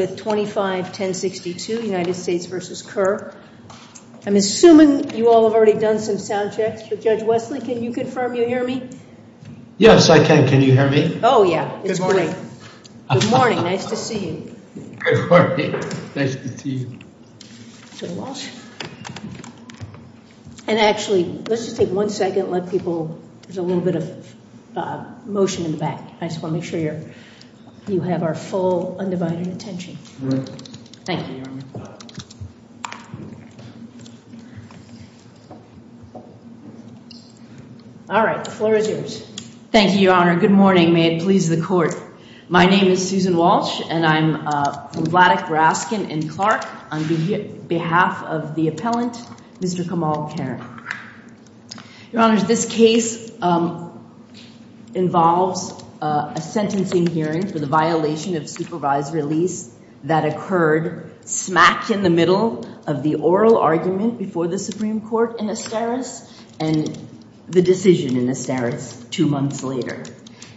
with 251062 United States v. Kerr. I'm assuming you all have already done some sound checks for Judge Wesley. Can you confirm you hear me? Yes, I can. Can you hear me? Oh, yeah. It's great. Good morning. Nice to see you. Good morning. Nice to see you. And actually, let's just take one second, let people, there's a little bit of motion in the back. I just Thank you, Your Honor. All right, the floor is yours. Thank you, Your Honor. Good morning. May it please the court. My name is Susan Walsh and I'm from Vladeck, Raskin and Clark on behalf of the appellant, Mr. Kamal Kerr. Your Honor, this case involves a sentencing hearing for the violation of supervised release that occurred smack in the middle of the oral argument before the Supreme Court in Asteris and the decision in Asteris two months later.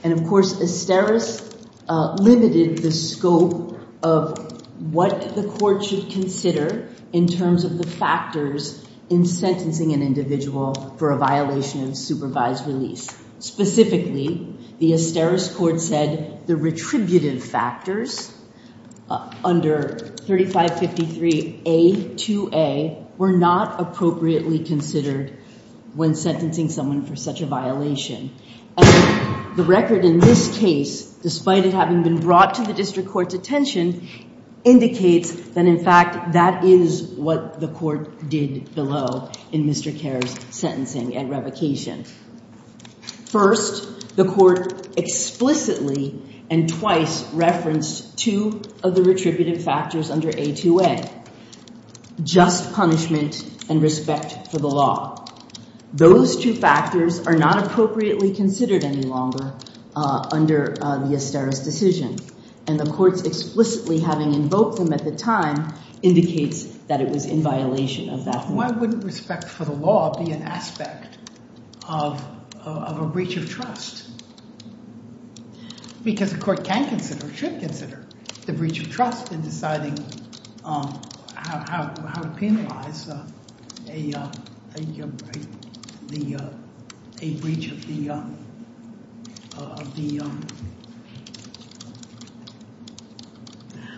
And of course, Asteris limited the scope of what the court should consider in terms of the factors in sentencing an individual for a violation of supervised release. Specifically, the Asteris court said the retributive factors under 3553A2A were not appropriately considered when sentencing someone for such a violation. The record in this case, despite it having been brought to the district court's attention, indicates that in fact that is what the court did below in Mr. Kerr's sentencing and revocation. First, the court explicitly and twice referenced two of the retributive factors under A2A, just punishment and respect for the law. Those two factors are not appropriately considered any longer under the Asteris decision. And the court's explicitly having invoked them at the time indicates that it was in violation of that. Why wouldn't respect for the law be an aspect of a breach of trust? Because the court can consider, should consider, the breach of trust in deciding how to penalize a breach of the...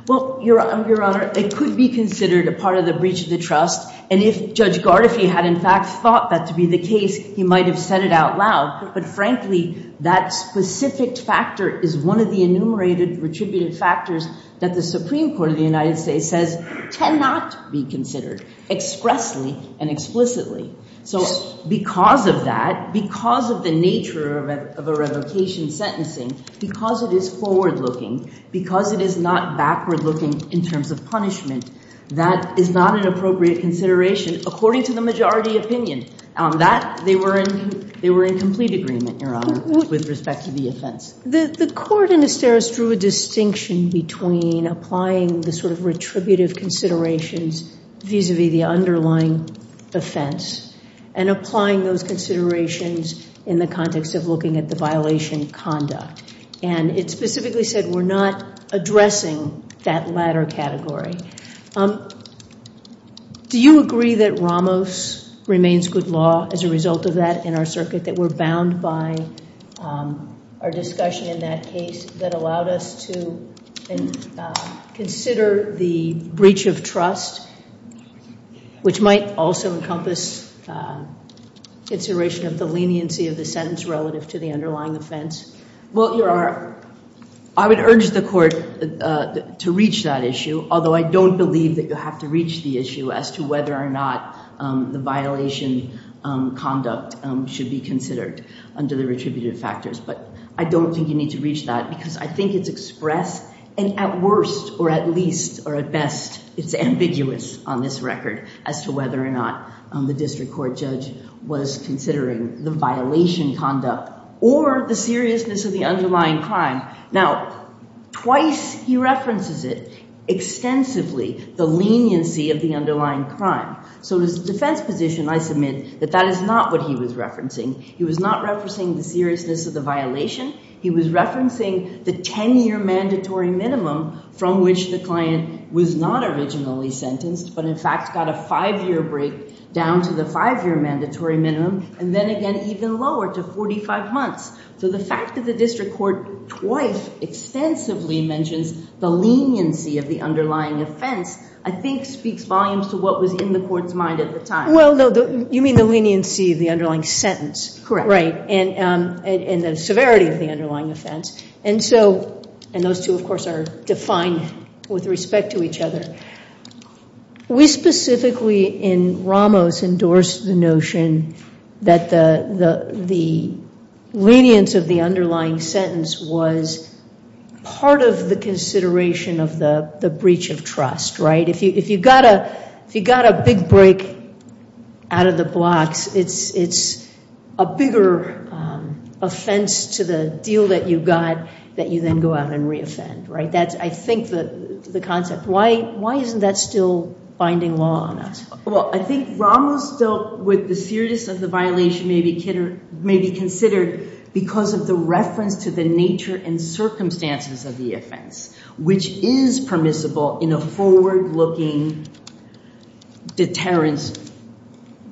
Well, Your Honor, it could be considered a part of the breach of the trust. And if Judge Gardefee had in fact thought that to be the case, he might have said it out loud. But frankly, that specific factor is one of the enumerated retributive factors that the Supreme Court of the United States says cannot be considered expressly and explicitly. So because of that, because of the nature of a revocation sentencing, because it is forward-looking, because it is not backward-looking in terms of punishment, that is not an appropriate consideration according to the majority opinion. They were in complete agreement, Your Honor, with respect to the offense. The court in Asteris drew a distinction between applying the sort of retributive considerations vis-a-vis the underlying offense and applying those considerations in the context of looking at the violation conduct. And it specifically said we're not addressing that latter category. Do you agree that Ramos remains good law as a result of that in our circuit, that we're bound by our discussion in that case that allowed us to consider the breach of trust, which might also encompass consideration of the leniency of the I would urge the court to reach that issue, although I don't believe that you have to reach the issue as to whether or not the violation conduct should be considered under the retributive factors. But I don't think you need to reach that because I think it's expressed, and at worst or at least or at best, it's ambiguous on this record as to whether or not the district court judge was considering the violation conduct or the seriousness of the underlying crime. Now, twice he references it extensively, the leniency of the underlying crime. So as a defense position, I submit that that is not what he was referencing. He was not referencing the seriousness of the violation. He was referencing the 10-year mandatory minimum from which the client was not originally sentenced, but in fact got a 5-year break down to the 5-year mandatory minimum, and then again even lower to 45 months. So the fact that the district court twice extensively mentions the leniency of the underlying offense I think speaks volumes to what was in the court's mind at the time. Well, no, you mean the leniency of the underlying sentence. Correct. Right. And the severity of the underlying offense. And those two, of course, are defined with respect to each other. We specifically in Ramos endorsed the notion that the lenience of the underlying sentence was part of the consideration of the breach of trust, right? If you got a big break out of the blocks, it's a bigger offense to the deal that you got that you then go out and re-offend, right? That's, I think, the concept. Why isn't that still binding law on us? Well, I think Ramos dealt with the seriousness of the violation may be considered because of the reference to the nature and circumstances of the offense, which is permissible in a forward-looking deterrence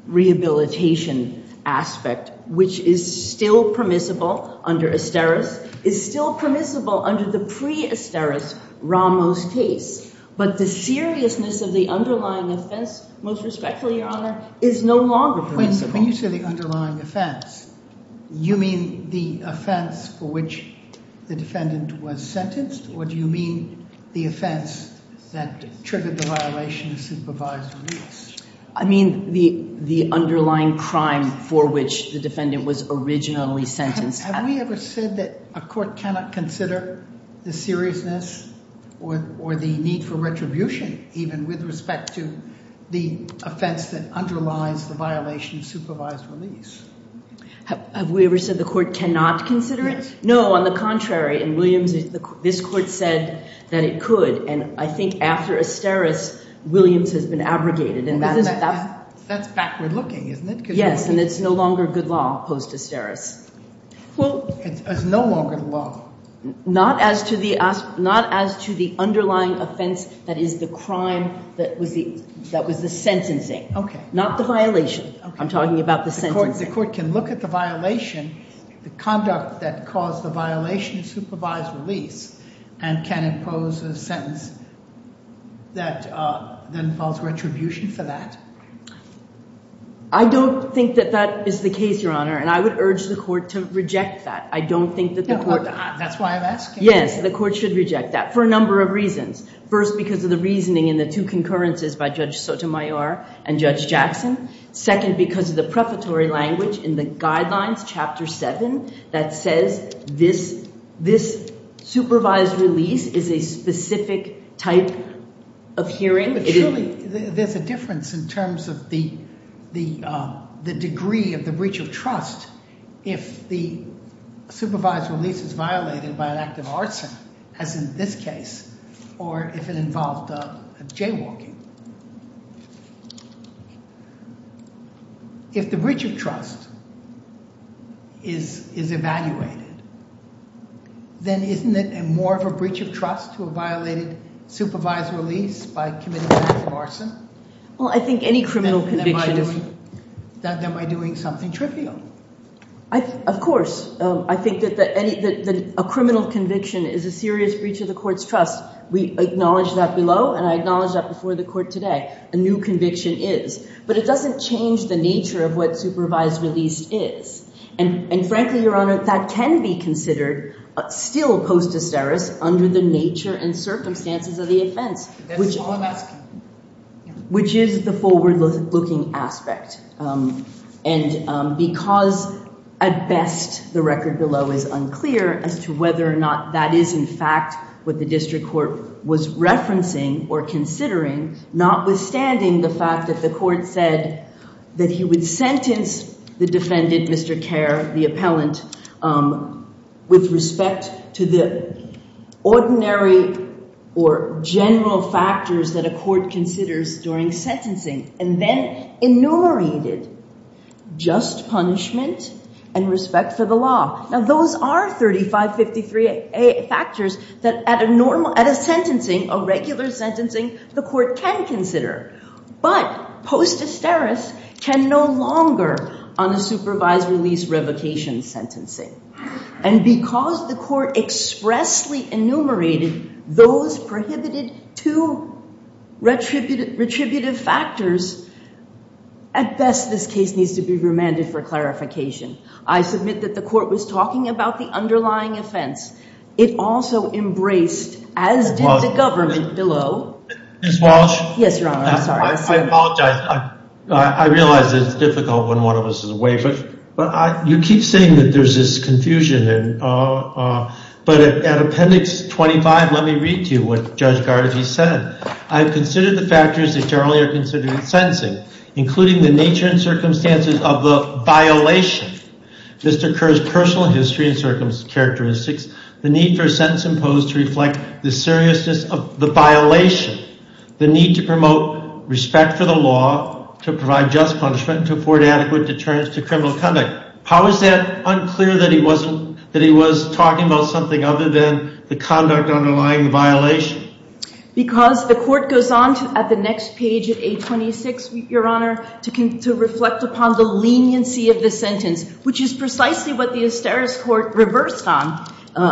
rehabilitation aspect, which is still permissible under Asteris, is still permissible under the pre-Asteris Ramos case. But the seriousness of the underlying offense, most respectfully, Your Honor, is no longer permissible. When you say the underlying offense, you mean the offense for which the defendant was sentenced, or do you mean the offense that triggered the violation of supervised release? I mean the underlying crime for which the defendant was originally sentenced. Have we ever said that a court cannot consider the seriousness or the need for retribution even with respect to the offense that underlies the violation of supervised release? Have we ever said the court cannot consider it? No, on the contrary. In Williams, this court said that it could, and I think after Asteris, Williams has been abrogated. That's backward-looking, isn't it? Yes, and it's no longer good law post-Asteris. It's no longer the law? Not as to the underlying offense that is the crime that was the sentencing. Okay. Not the violation. I'm talking about the sentencing. The court can look at the violation, the conduct that caused the violation of supervised release, and can impose a sentence that involves retribution for that? I don't think that that is the case, Your Honor, and I would urge the court to reject that. I don't think that the court... That's why I'm asking. Yes, the court should reject that for a number of reasons. First, because of the reasoning in the two concurrences by Judge Sotomayor and Judge Jackson. Second, because of the prefatory language in the Guidelines, Chapter 7, that says this supervised release is a specific type of hearing. Surely, there's a difference in terms of the degree of the breach of trust if the supervised release is violated by an act of arson, as in this case, or if it involved jaywalking. If the breach of trust is evaluated, then isn't it more of a breach of trust to a violated supervised release by committing an act of arson? Well, I think any criminal conviction... Then am I doing something trivial? Of course. I think that a criminal conviction is a serious breach of the court's trust. We acknowledge that below, and I acknowledge that before the court today. A new conviction is. But it doesn't change the nature of what supervised release is. And frankly, Your Honor, that can be considered still postesterous under the nature and circumstances of the offense, which is the forward-looking aspect. And because, at best, the record below is unclear as to whether or not that is, in fact, what the district court was referencing or considering, notwithstanding the fact that the court said that he would sentence the defendant, Mr. Kerr, the appellant, with respect to the ordinary or general factors that a court considers during sentencing. And then enumerated just punishment and respect for the law. Now, those are 3553A factors that at a sentencing, a regular sentencing, the court can consider. But postesterous can no longer on a supervised release revocation sentencing. And because the court expressly enumerated those prohibited two retributive factors, at best, this case needs to be remanded for clarification. I submit that the court was talking about the underlying offense. It also embraced, as did the government below. Ms. Walsh? Yes, Your Honor. I'm sorry. I apologize. I realize that it's difficult when one of us is away, but you keep saying that there's this confusion. But at Appendix 25, let me read to you what Judge Gargi said. I have considered the factors that generally are considered in sentencing, including the nature and circumstances of the violation, Mr. Kerr's personal history and characteristics, the need for a sentence imposed to reflect the seriousness of the violation, the need to promote respect for the law, to provide just punishment, to afford adequate deterrence to criminal conduct. How is that unclear that he was talking about something other than the conduct underlying the violation? Because the court goes on at the next page at A26, Your Honor, to reflect upon the leniency of the sentence, which is precisely what the Asteris Court reversed on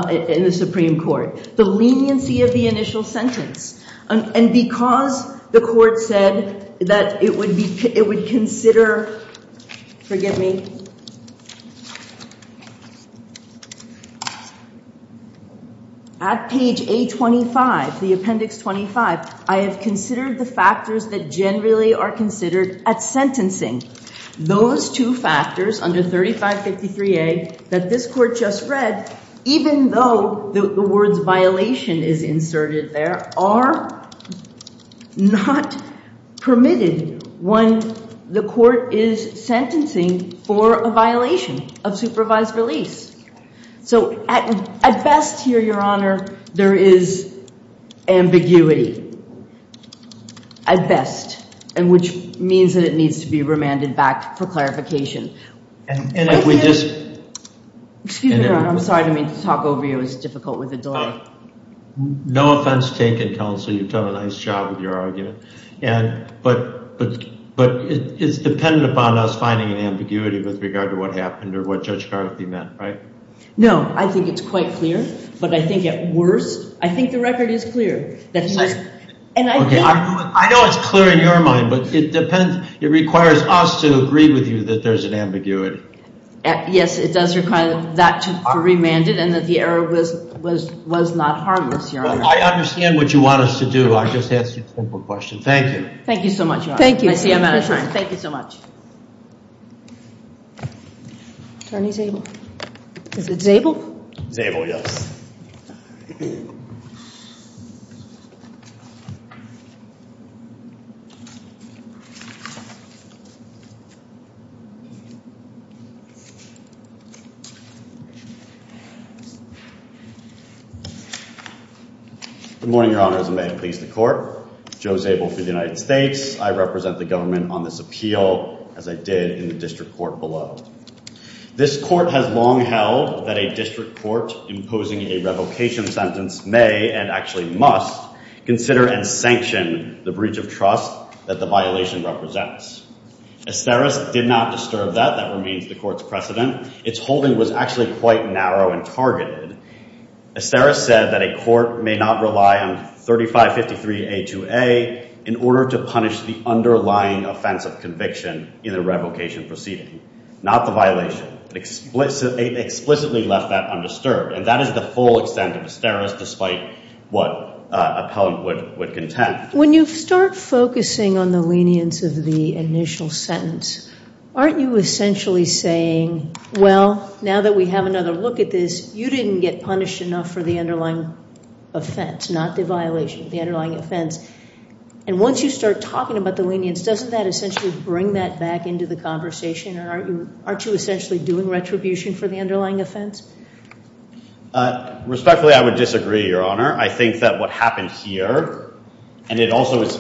in the Supreme Court, the leniency of the initial sentence. And because the court said that it would consider, forgive me, at page A25, the Appendix 25, I have considered the factors that generally are considered at sentencing. Those two factors under 3553A that this court just read, even though the words violation is inserted there, are not permitted when the court is sentencing for a violation of supervised release. So at best here, Your Honor, there is ambiguity, at best, and which means that it needs to be remanded back for clarification. Excuse me, Your Honor, I'm sorry to talk over you. It's difficult with the door. No offense taken, counsel. You've done a nice job with your argument. But it's dependent upon us finding an ambiguity with regard to what happened or what Judge Garthie meant, right? No, I think it's quite clear. But I think at worst, I think the record is clear. I know it's clear in your mind, but it depends, it requires us to agree with you that there's an ambiguity. Yes, it does require that to be remanded and that the error was not harmless, Your Honor. I understand what you want us to do. I'll just ask you a simple question. Thank you. Thank you so much, Your Honor. Thank you. Thank you so much. Is it Zabel? Zabel, yes. Good morning, Your Honors, and may it please the Court. Joe Zabel for the United States. I represent the government on this appeal, as I did in the district court below. This court has long held that a district court imposing a revocation sentence may and actually must consider and sanction the breach of trust that the violation represents. Asteris did not disturb that. That remains the court's precedent. Its holding was actually quite narrow and targeted. Asteris said that a court may not rely on 3553A2A in order to punish the underlying offense of conviction in the revocation proceeding, not the violation. It explicitly left that undisturbed, and that is the full extent of Asteris, despite what an appellant would contend. When you start focusing on the lenience of the initial sentence, aren't you essentially saying, well, now that we have another look at this, you didn't get punished enough for the underlying offense, not the violation, the underlying offense? And once you start talking about the lenience, doesn't that essentially bring that back into the conversation? Aren't you essentially doing retribution for the underlying offense? Respectfully, I would disagree, Your Honor. I think that what happened here, and it also is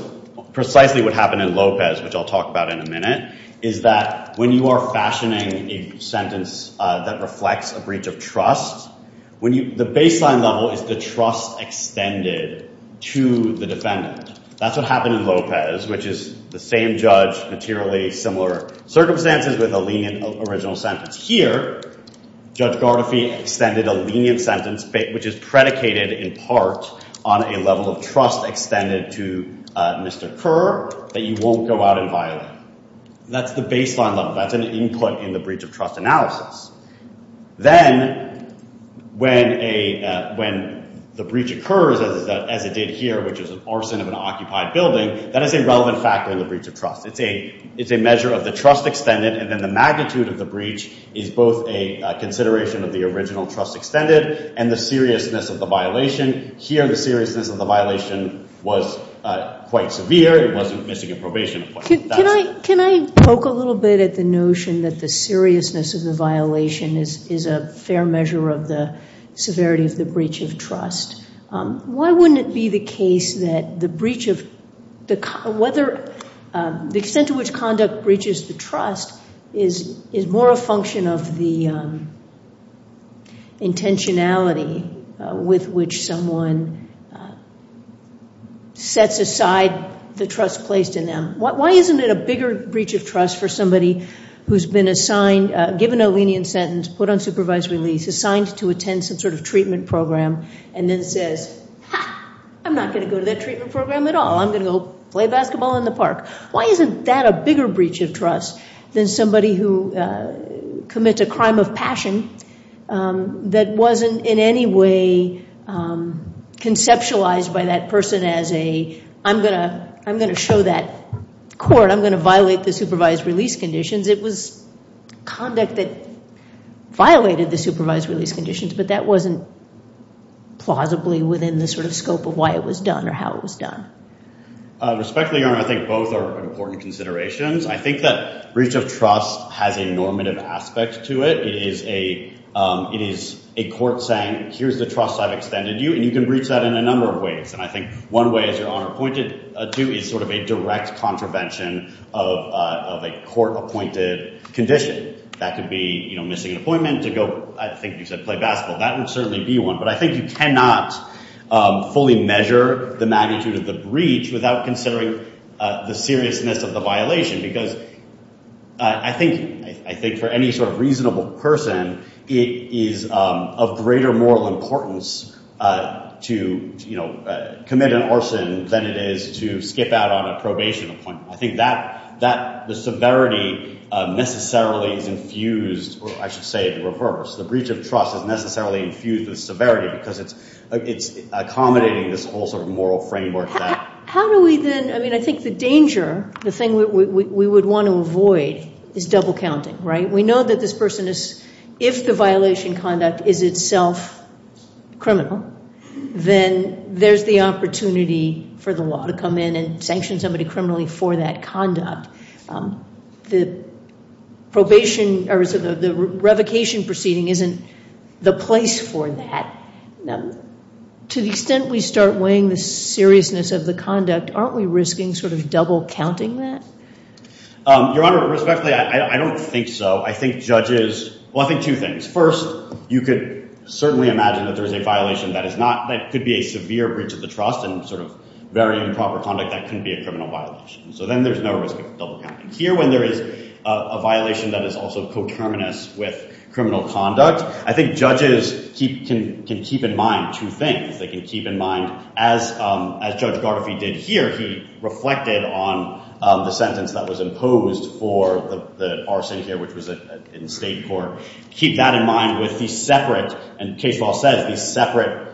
precisely what happened in Lopez, which I'll talk about in a minute, is that when you are fashioning a sentence that reflects a breach of trust, the baseline level is the trust extended to the defendant. That's what happened in Lopez, which is the same judge, materially similar circumstances with a lenient original sentence. Here, Judge Gardefee extended a lenient sentence, which is predicated in part on a level of trust extended to Mr. Kerr that you won't go out and violate. That's the baseline level. That's an input in the breach of trust analysis. Then, when the breach occurs, as it did here, which is an arson of an occupied building, that is a relevant factor in the breach of trust. It's a measure of the trust extended, and then the magnitude of the breach is both a consideration of the original trust extended and the seriousness of the violation. Here, the seriousness of the violation was quite severe. It wasn't missing in probation. Can I poke a little bit at the notion that the seriousness of the violation is a fair measure of the severity of the breach of trust? Why wouldn't it be the case that the extent to which conduct breaches the trust is more a function of the intentionality with which someone sets aside the trust placed in them? Why isn't it a bigger breach of trust for somebody who's been assigned, given a lenient sentence, put on supervised release, assigned to attend some sort of treatment program, and then says, ha, I'm not going to go to that treatment program at all. I'm going to go play basketball in the park. Why isn't that a bigger breach of trust than somebody who commits a crime of passion that wasn't in any way conceptualized by that person as a, I'm going to show that court. I'm going to violate the supervised release conditions. It was conduct that violated the supervised release conditions, but that wasn't plausibly within the sort of scope of why it was done or how it was done. Respectfully, Your Honor, I think both are important considerations. I think that breach of trust has a normative aspect to it. It is a court saying, here's the trust I've extended you, and you can breach that in a number of ways. And I think one way, as Your Honor pointed to, is sort of a direct contravention of a court-appointed condition. That could be missing an appointment to go, I think you said play basketball. That would certainly be one. But I think you cannot fully measure the magnitude of the breach without considering the seriousness of the violation. Because I think for any sort of reasonable person, it is of greater moral importance to commit an orson than it is to skip out on a probation appointment. I think the severity necessarily is infused, or I should say the reverse. The breach of trust is necessarily infused with severity because it's accommodating this whole sort of moral framework. How do we then, I mean, I think the danger, the thing we would want to avoid is double counting, right? We know that this person is, if the violation conduct is itself criminal, then there's the opportunity for the law to come in and sanction somebody criminally for that conduct. The revocation proceeding isn't the place for that. To the extent we start weighing the seriousness of the conduct, aren't we risking sort of double counting that? Your Honor, respectfully, I don't think so. I think judges, well, I think two things. First, you could certainly imagine that there is a violation that is not, that could be a severe breach of the trust and sort of very improper conduct that can be a criminal violation. So then there's no risk of double counting. Here, when there is a violation that is also coterminous with criminal conduct, I think judges can keep in mind two things. They can keep in mind, as Judge Gardefee did here, he reflected on the sentence that was imposed for the arson here, which was in state court. Keep that in mind with the separate, and case law says, the separate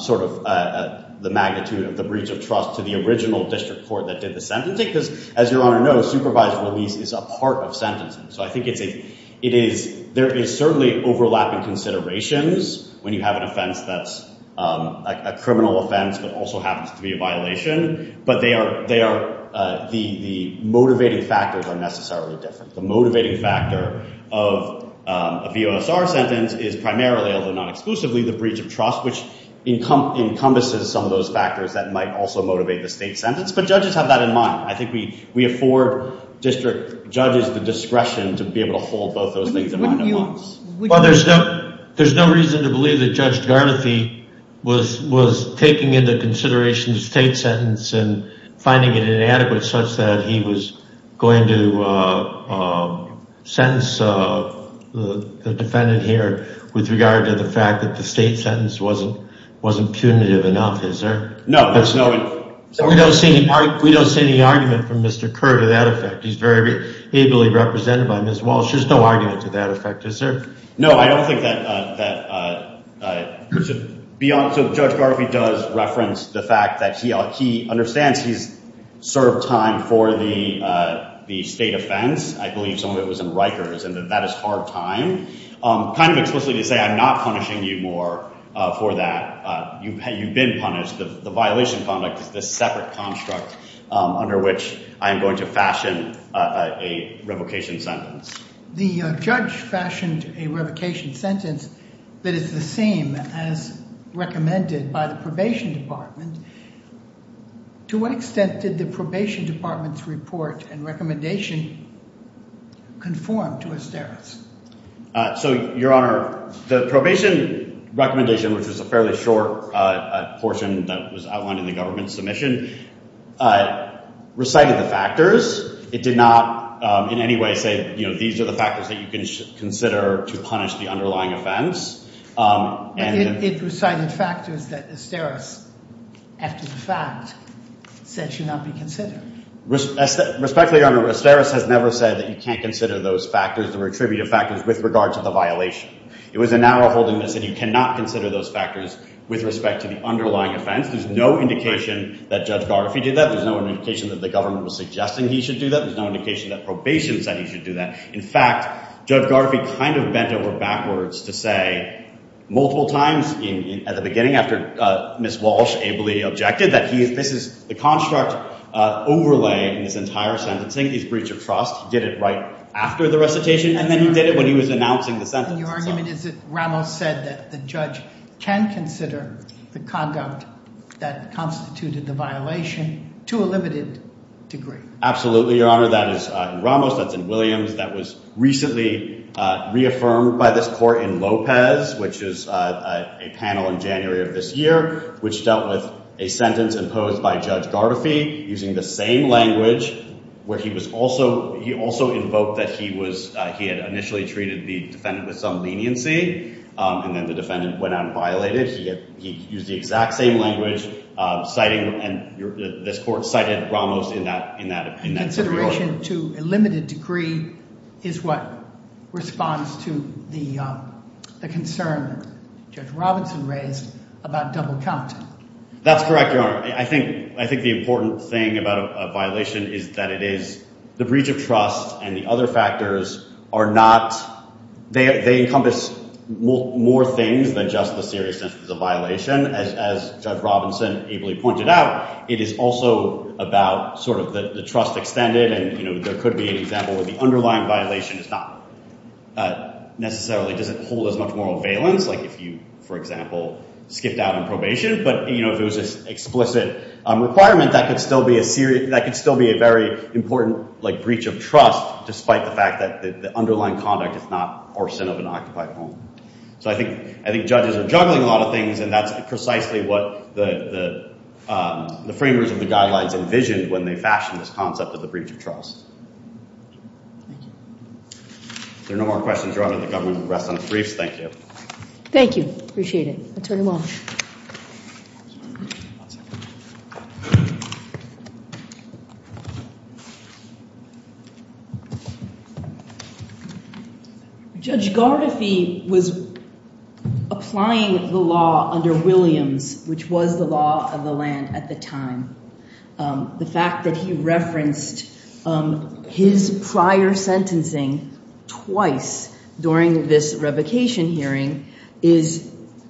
sort of the magnitude of the breach of trust to the original district court that did the sentencing. Because as Your Honor knows, supervised release is a part of sentencing. So I think it is, there is certainly overlapping considerations when you have an offense that's a criminal offense that also happens to be a violation. But they are, the motivating factors are necessarily different. The motivating factor of a VOSR sentence is primarily, although not exclusively, the breach of trust, which encompasses some of those factors that might also motivate the state sentence. But judges have that in mind. I think we afford district judges the discretion to be able to hold both those things in mind at once. Well, there's no reason to believe that Judge Gardefee was taking into consideration the state sentence and finding it inadequate such that he was going to sentence the defendant here with regard to the fact that the state sentence wasn't punitive enough. Is there? No. We don't see any argument from Mr. Kerr to that effect. He's very ably represented by Ms. Walsh. There's no argument to that effect. Is there? No, I don't think that, so Judge Gardee does reference the fact that he understands he's served time for the state offense. I believe some of it was in Rikers and that that is hard time. Kind of explicitly to say I'm not punishing you more for that. You've been punished. The violation conduct is this separate construct under which I am going to fashion a revocation sentence. The judge fashioned a revocation sentence that is the same as recommended by the Probation Department. To what extent did the Probation Department's report and recommendation conform to Asterix? So, Your Honor, the probation recommendation, which was a fairly short portion that was outlined in the government submission, recited the factors. It did not in any way say these are the factors that you can consider to punish the underlying offense. It recited factors that Asterix, after the fact, said should not be considered. Respectfully, Your Honor, Asterix has never said that you can't consider those factors, the retributive factors, with regard to the violation. It was a narrow-holding that said you cannot consider those factors with respect to the underlying offense. There's no indication that Judge Gardee did that. There's no indication that the government was suggesting he should do that. There's no indication that probation said he should do that. In fact, Judge Gardee kind of bent over backwards to say multiple times at the beginning, after Ms. Walsh ably objected, that this is the construct overlay in this entire sentencing. He's breach of trust. He did it right after the recitation, and then he did it when he was announcing the sentence. And your argument is that Ramos said that the judge can consider the conduct that constituted the violation to a limited degree. Absolutely, Your Honor. That is in Ramos. That's in Williams. That was recently reaffirmed by this court in Lopez, which is a panel in January of this year, which dealt with a sentence imposed by Judge Gardee using the same language where he was also—he also invoked that he was—he had initially treated the defendant with some leniency, and then the defendant went out and violated. He used the exact same language, citing—and this court cited Ramos in that— Consideration to a limited degree is what responds to the concern Judge Robinson raised about double count. That's correct, Your Honor. I think the important thing about a violation is that it is—the breach of trust and the other factors are not—they encompass more things than just the seriousness of the violation. As Judge Robinson ably pointed out, it is also about sort of the trust extended, and, you know, there could be an example where the underlying violation is not necessarily—doesn't hold as much moral valence, like if you, for example, skipped out on probation. But, you know, if it was an explicit requirement, that could still be a serious—that could still be a very important, like, breach of trust, despite the fact that the underlying conduct is not arson of an occupied home. So I think judges are juggling a lot of things, and that's precisely what the framers of the guidelines envisioned when they fashioned this concept of the breach of trust. Thank you. If there are no more questions, Your Honor, the government will rest on its briefs. Thank you. Thank you. Appreciate it. Attorney Walsh. Judge Gardefee was applying the law under Williams, which was the law of the land at the time. The fact that he referenced his prior sentencing twice during this revocation hearing is,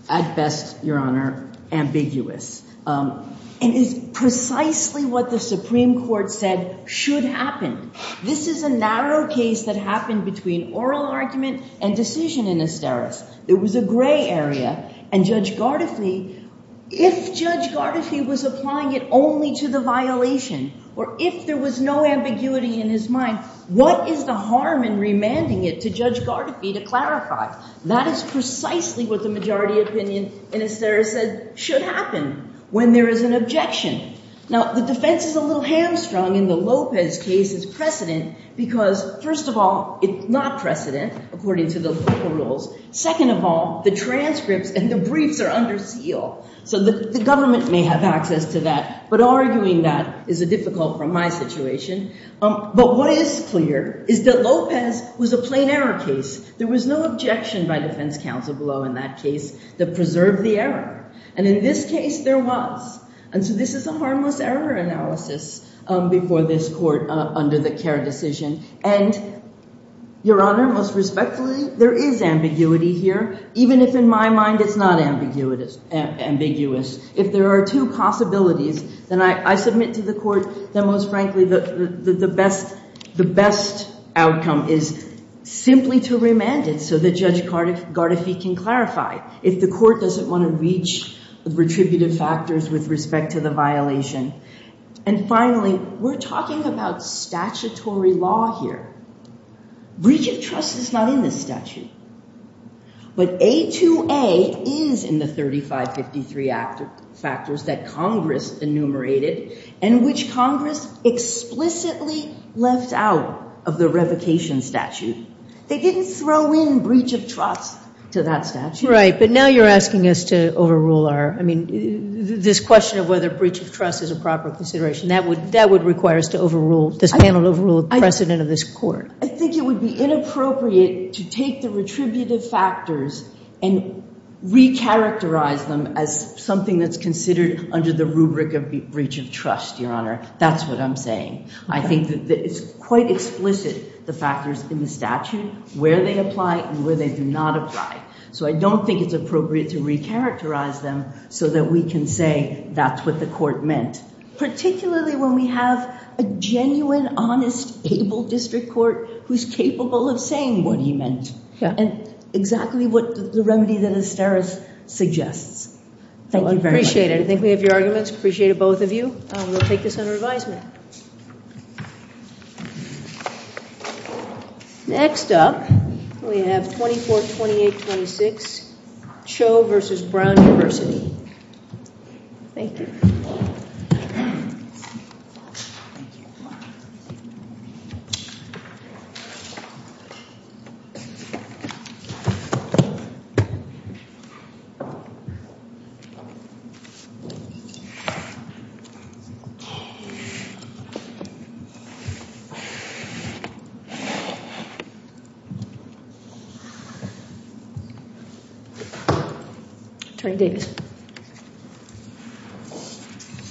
at best, Your Honor, ambiguous, and is precisely what the Supreme Court said should happen. This is a narrow case that happened between oral argument and decision in Asteris. It was a gray area, and Judge Gardeefee—if Judge Gardeefee was applying it only to the violation, or if there was no ambiguity in his mind, what is the harm in remanding it to Judge Gardeefee to clarify? That is precisely what the majority opinion in Asteris said should happen when there is an objection. Now, the defense is a little hamstrung in the Lopez case's precedent because, first of all, it's not precedent according to the local rules. Second of all, the transcripts and the briefs are under seal, so the government may have access to that, but arguing that is difficult from my situation. But what is clear is that Lopez was a plain error case. There was no objection by defense counsel below in that case that preserved the error. And in this case, there was. And so this is a harmless error analysis before this court under the Kerr decision. And, Your Honor, most respectfully, there is ambiguity here, even if, in my mind, it's not ambiguous. If there are two possibilities, then I submit to the court that, most frankly, the best outcome is simply to remand it so that Judge Gardeefee can clarify. If the court doesn't want to reach the retributive factors with respect to the violation. And, finally, we're talking about statutory law here. Breach of trust is not in this statute. But A2A is in the 3553 factors that Congress enumerated and which Congress explicitly left out of the revocation statute. They didn't throw in breach of trust to that statute. Right. But now you're asking us to overrule our, I mean, this question of whether breach of trust is a proper consideration. That would require us to overrule this panel, overrule the precedent of this court. I think it would be inappropriate to take the retributive factors and recharacterize them as something that's considered under the rubric of breach of trust, Your Honor. That's what I'm saying. I think that it's quite explicit, the factors in the statute, where they apply and where they do not apply. So I don't think it's appropriate to recharacterize them so that we can say that's what the court meant. Particularly when we have a genuine, honest, able district court who's capable of saying what he meant. Yeah. And exactly what the remedy that Asteris suggests. Thank you very much. I appreciate it. I think we have your arguments. Appreciate it, both of you. We'll take this under advisement. Next up, we have 242826, Cho versus Brown University. Thank you.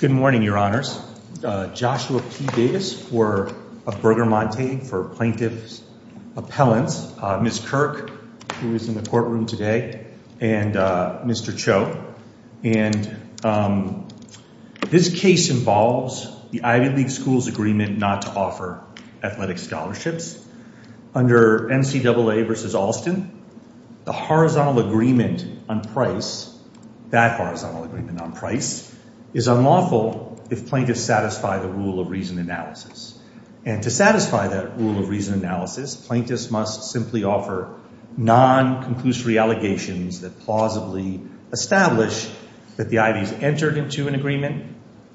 Good morning, Your Honors. Joshua P. Davis of Bergamonte for plaintiff's appellants. Ms. Kirk, who is in the courtroom today. And Mr. Cho. And this case involves the Ivy League schools' agreement not to offer athletic scholarships. Under NCAA versus Alston, the horizontal agreement on price, that horizontal agreement on price, is unlawful if plaintiffs satisfy the rule of reason analysis. And to satisfy that rule of reason analysis, plaintiffs must simply offer non-conclusory allegations that plausibly establish that the Ivies entered into an agreement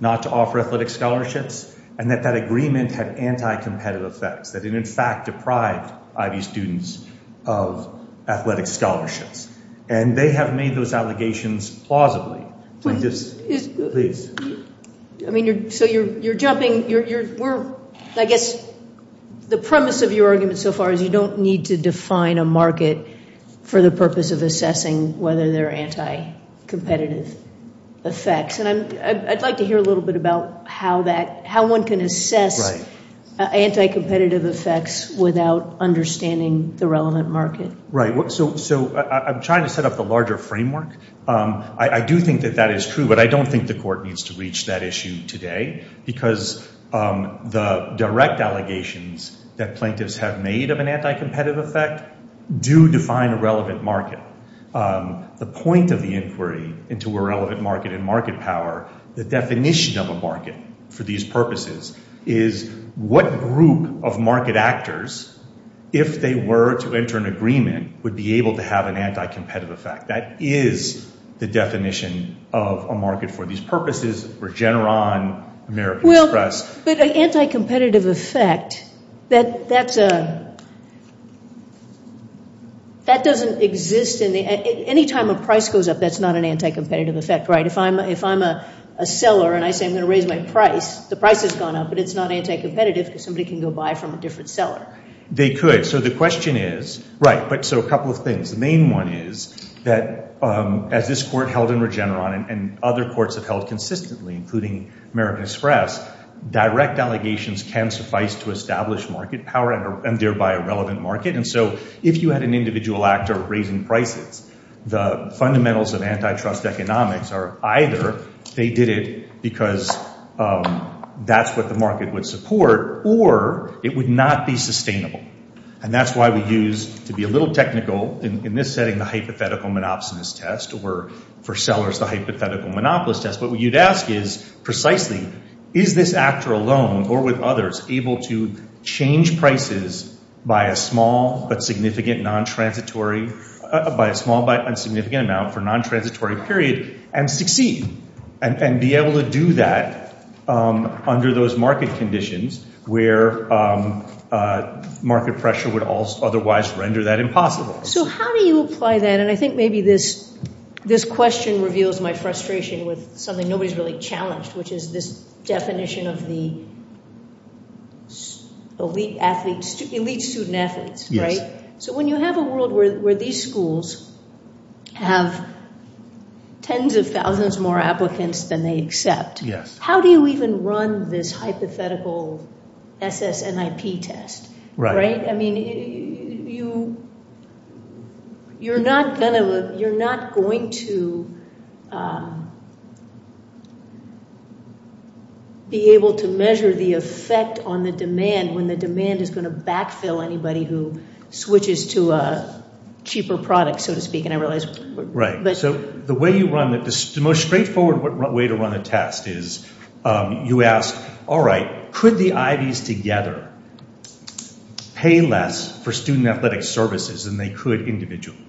not to offer athletic scholarships and that that agreement had anti-competitive effects, that it in fact deprived Ivy students of athletic scholarships. And they have made those allegations plausibly. Plaintiffs, please. I mean, so you're jumping. I guess the premise of your argument so far is you don't need to define a market for the purpose of assessing whether there are anti-competitive effects. And I'd like to hear a little bit about how one can assess anti-competitive effects without understanding the relevant market. Right. So I'm trying to set up the larger framework. I do think that that is true, but I don't think the court needs to reach that issue today because the direct allegations that plaintiffs have made of an anti-competitive effect do define a relevant market. The point of the inquiry into a relevant market and market power, the definition of a market for these purposes, is what group of market actors, if they were to enter an agreement, would be able to have an anti-competitive effect. That is the definition of a market for these purposes, Regeneron, American Express. But an anti-competitive effect, that doesn't exist. Anytime a price goes up, that's not an anti-competitive effect, right? If I'm a seller and I say I'm going to raise my price, the price has gone up, but it's not anti-competitive because somebody can go buy from a different seller. They could. So the question is, right, but so a couple of things. The main one is that as this court held in Regeneron and other courts have held consistently, including American Express, direct allegations can suffice to establish market power and thereby a relevant market. And so if you had an individual actor raising prices, the fundamentals of antitrust economics are either they did it because that's what the market would support or it would not be sustainable. And that's why we use, to be a little technical in this setting, the hypothetical monopsonist test or for sellers the hypothetical monopolist test. What you'd ask is precisely is this actor alone or with others able to change prices by a small but significant non-transitory, by a small but insignificant amount for non-transitory period and succeed and be able to do that under those market conditions where market pressure would otherwise render that impossible. So how do you apply that? And I think maybe this question reveals my frustration with something nobody's really challenged, which is this definition of the elite student athletes, right? So when you have a world where these schools have tens of thousands more applicants than they accept, how do you even run this hypothetical SSNIP test, right? I mean, you're not going to be able to measure the effect on the demand when the demand is going to backfill anybody who switches to a cheaper product, so to speak, and I realize. Right. So the way you run it, the most straightforward way to run a test is you ask, all right, could the Ivys together pay less for student athletic services than they could individually?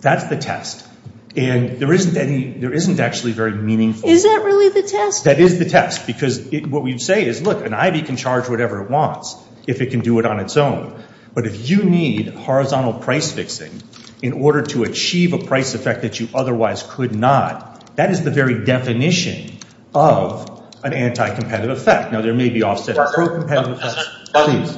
That's the test. And there isn't actually very meaningful. Is that really the test? That is the test because what we say is, look, an Ivy can charge whatever it wants if it can do it on its own. But if you need horizontal price fixing in order to achieve a price effect that you otherwise could not, that is the very definition of an anti-competitive effect. Now, there may be offset pro-competitive effects.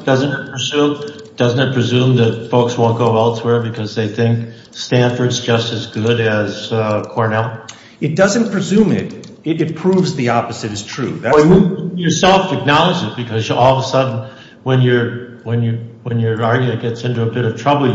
Doesn't it presume that folks won't go elsewhere because they think Stanford is just as good as Cornell? It doesn't presume it. It proves the opposite is true. You self-acknowledge it because all of a sudden when your argument gets into a bit of trouble,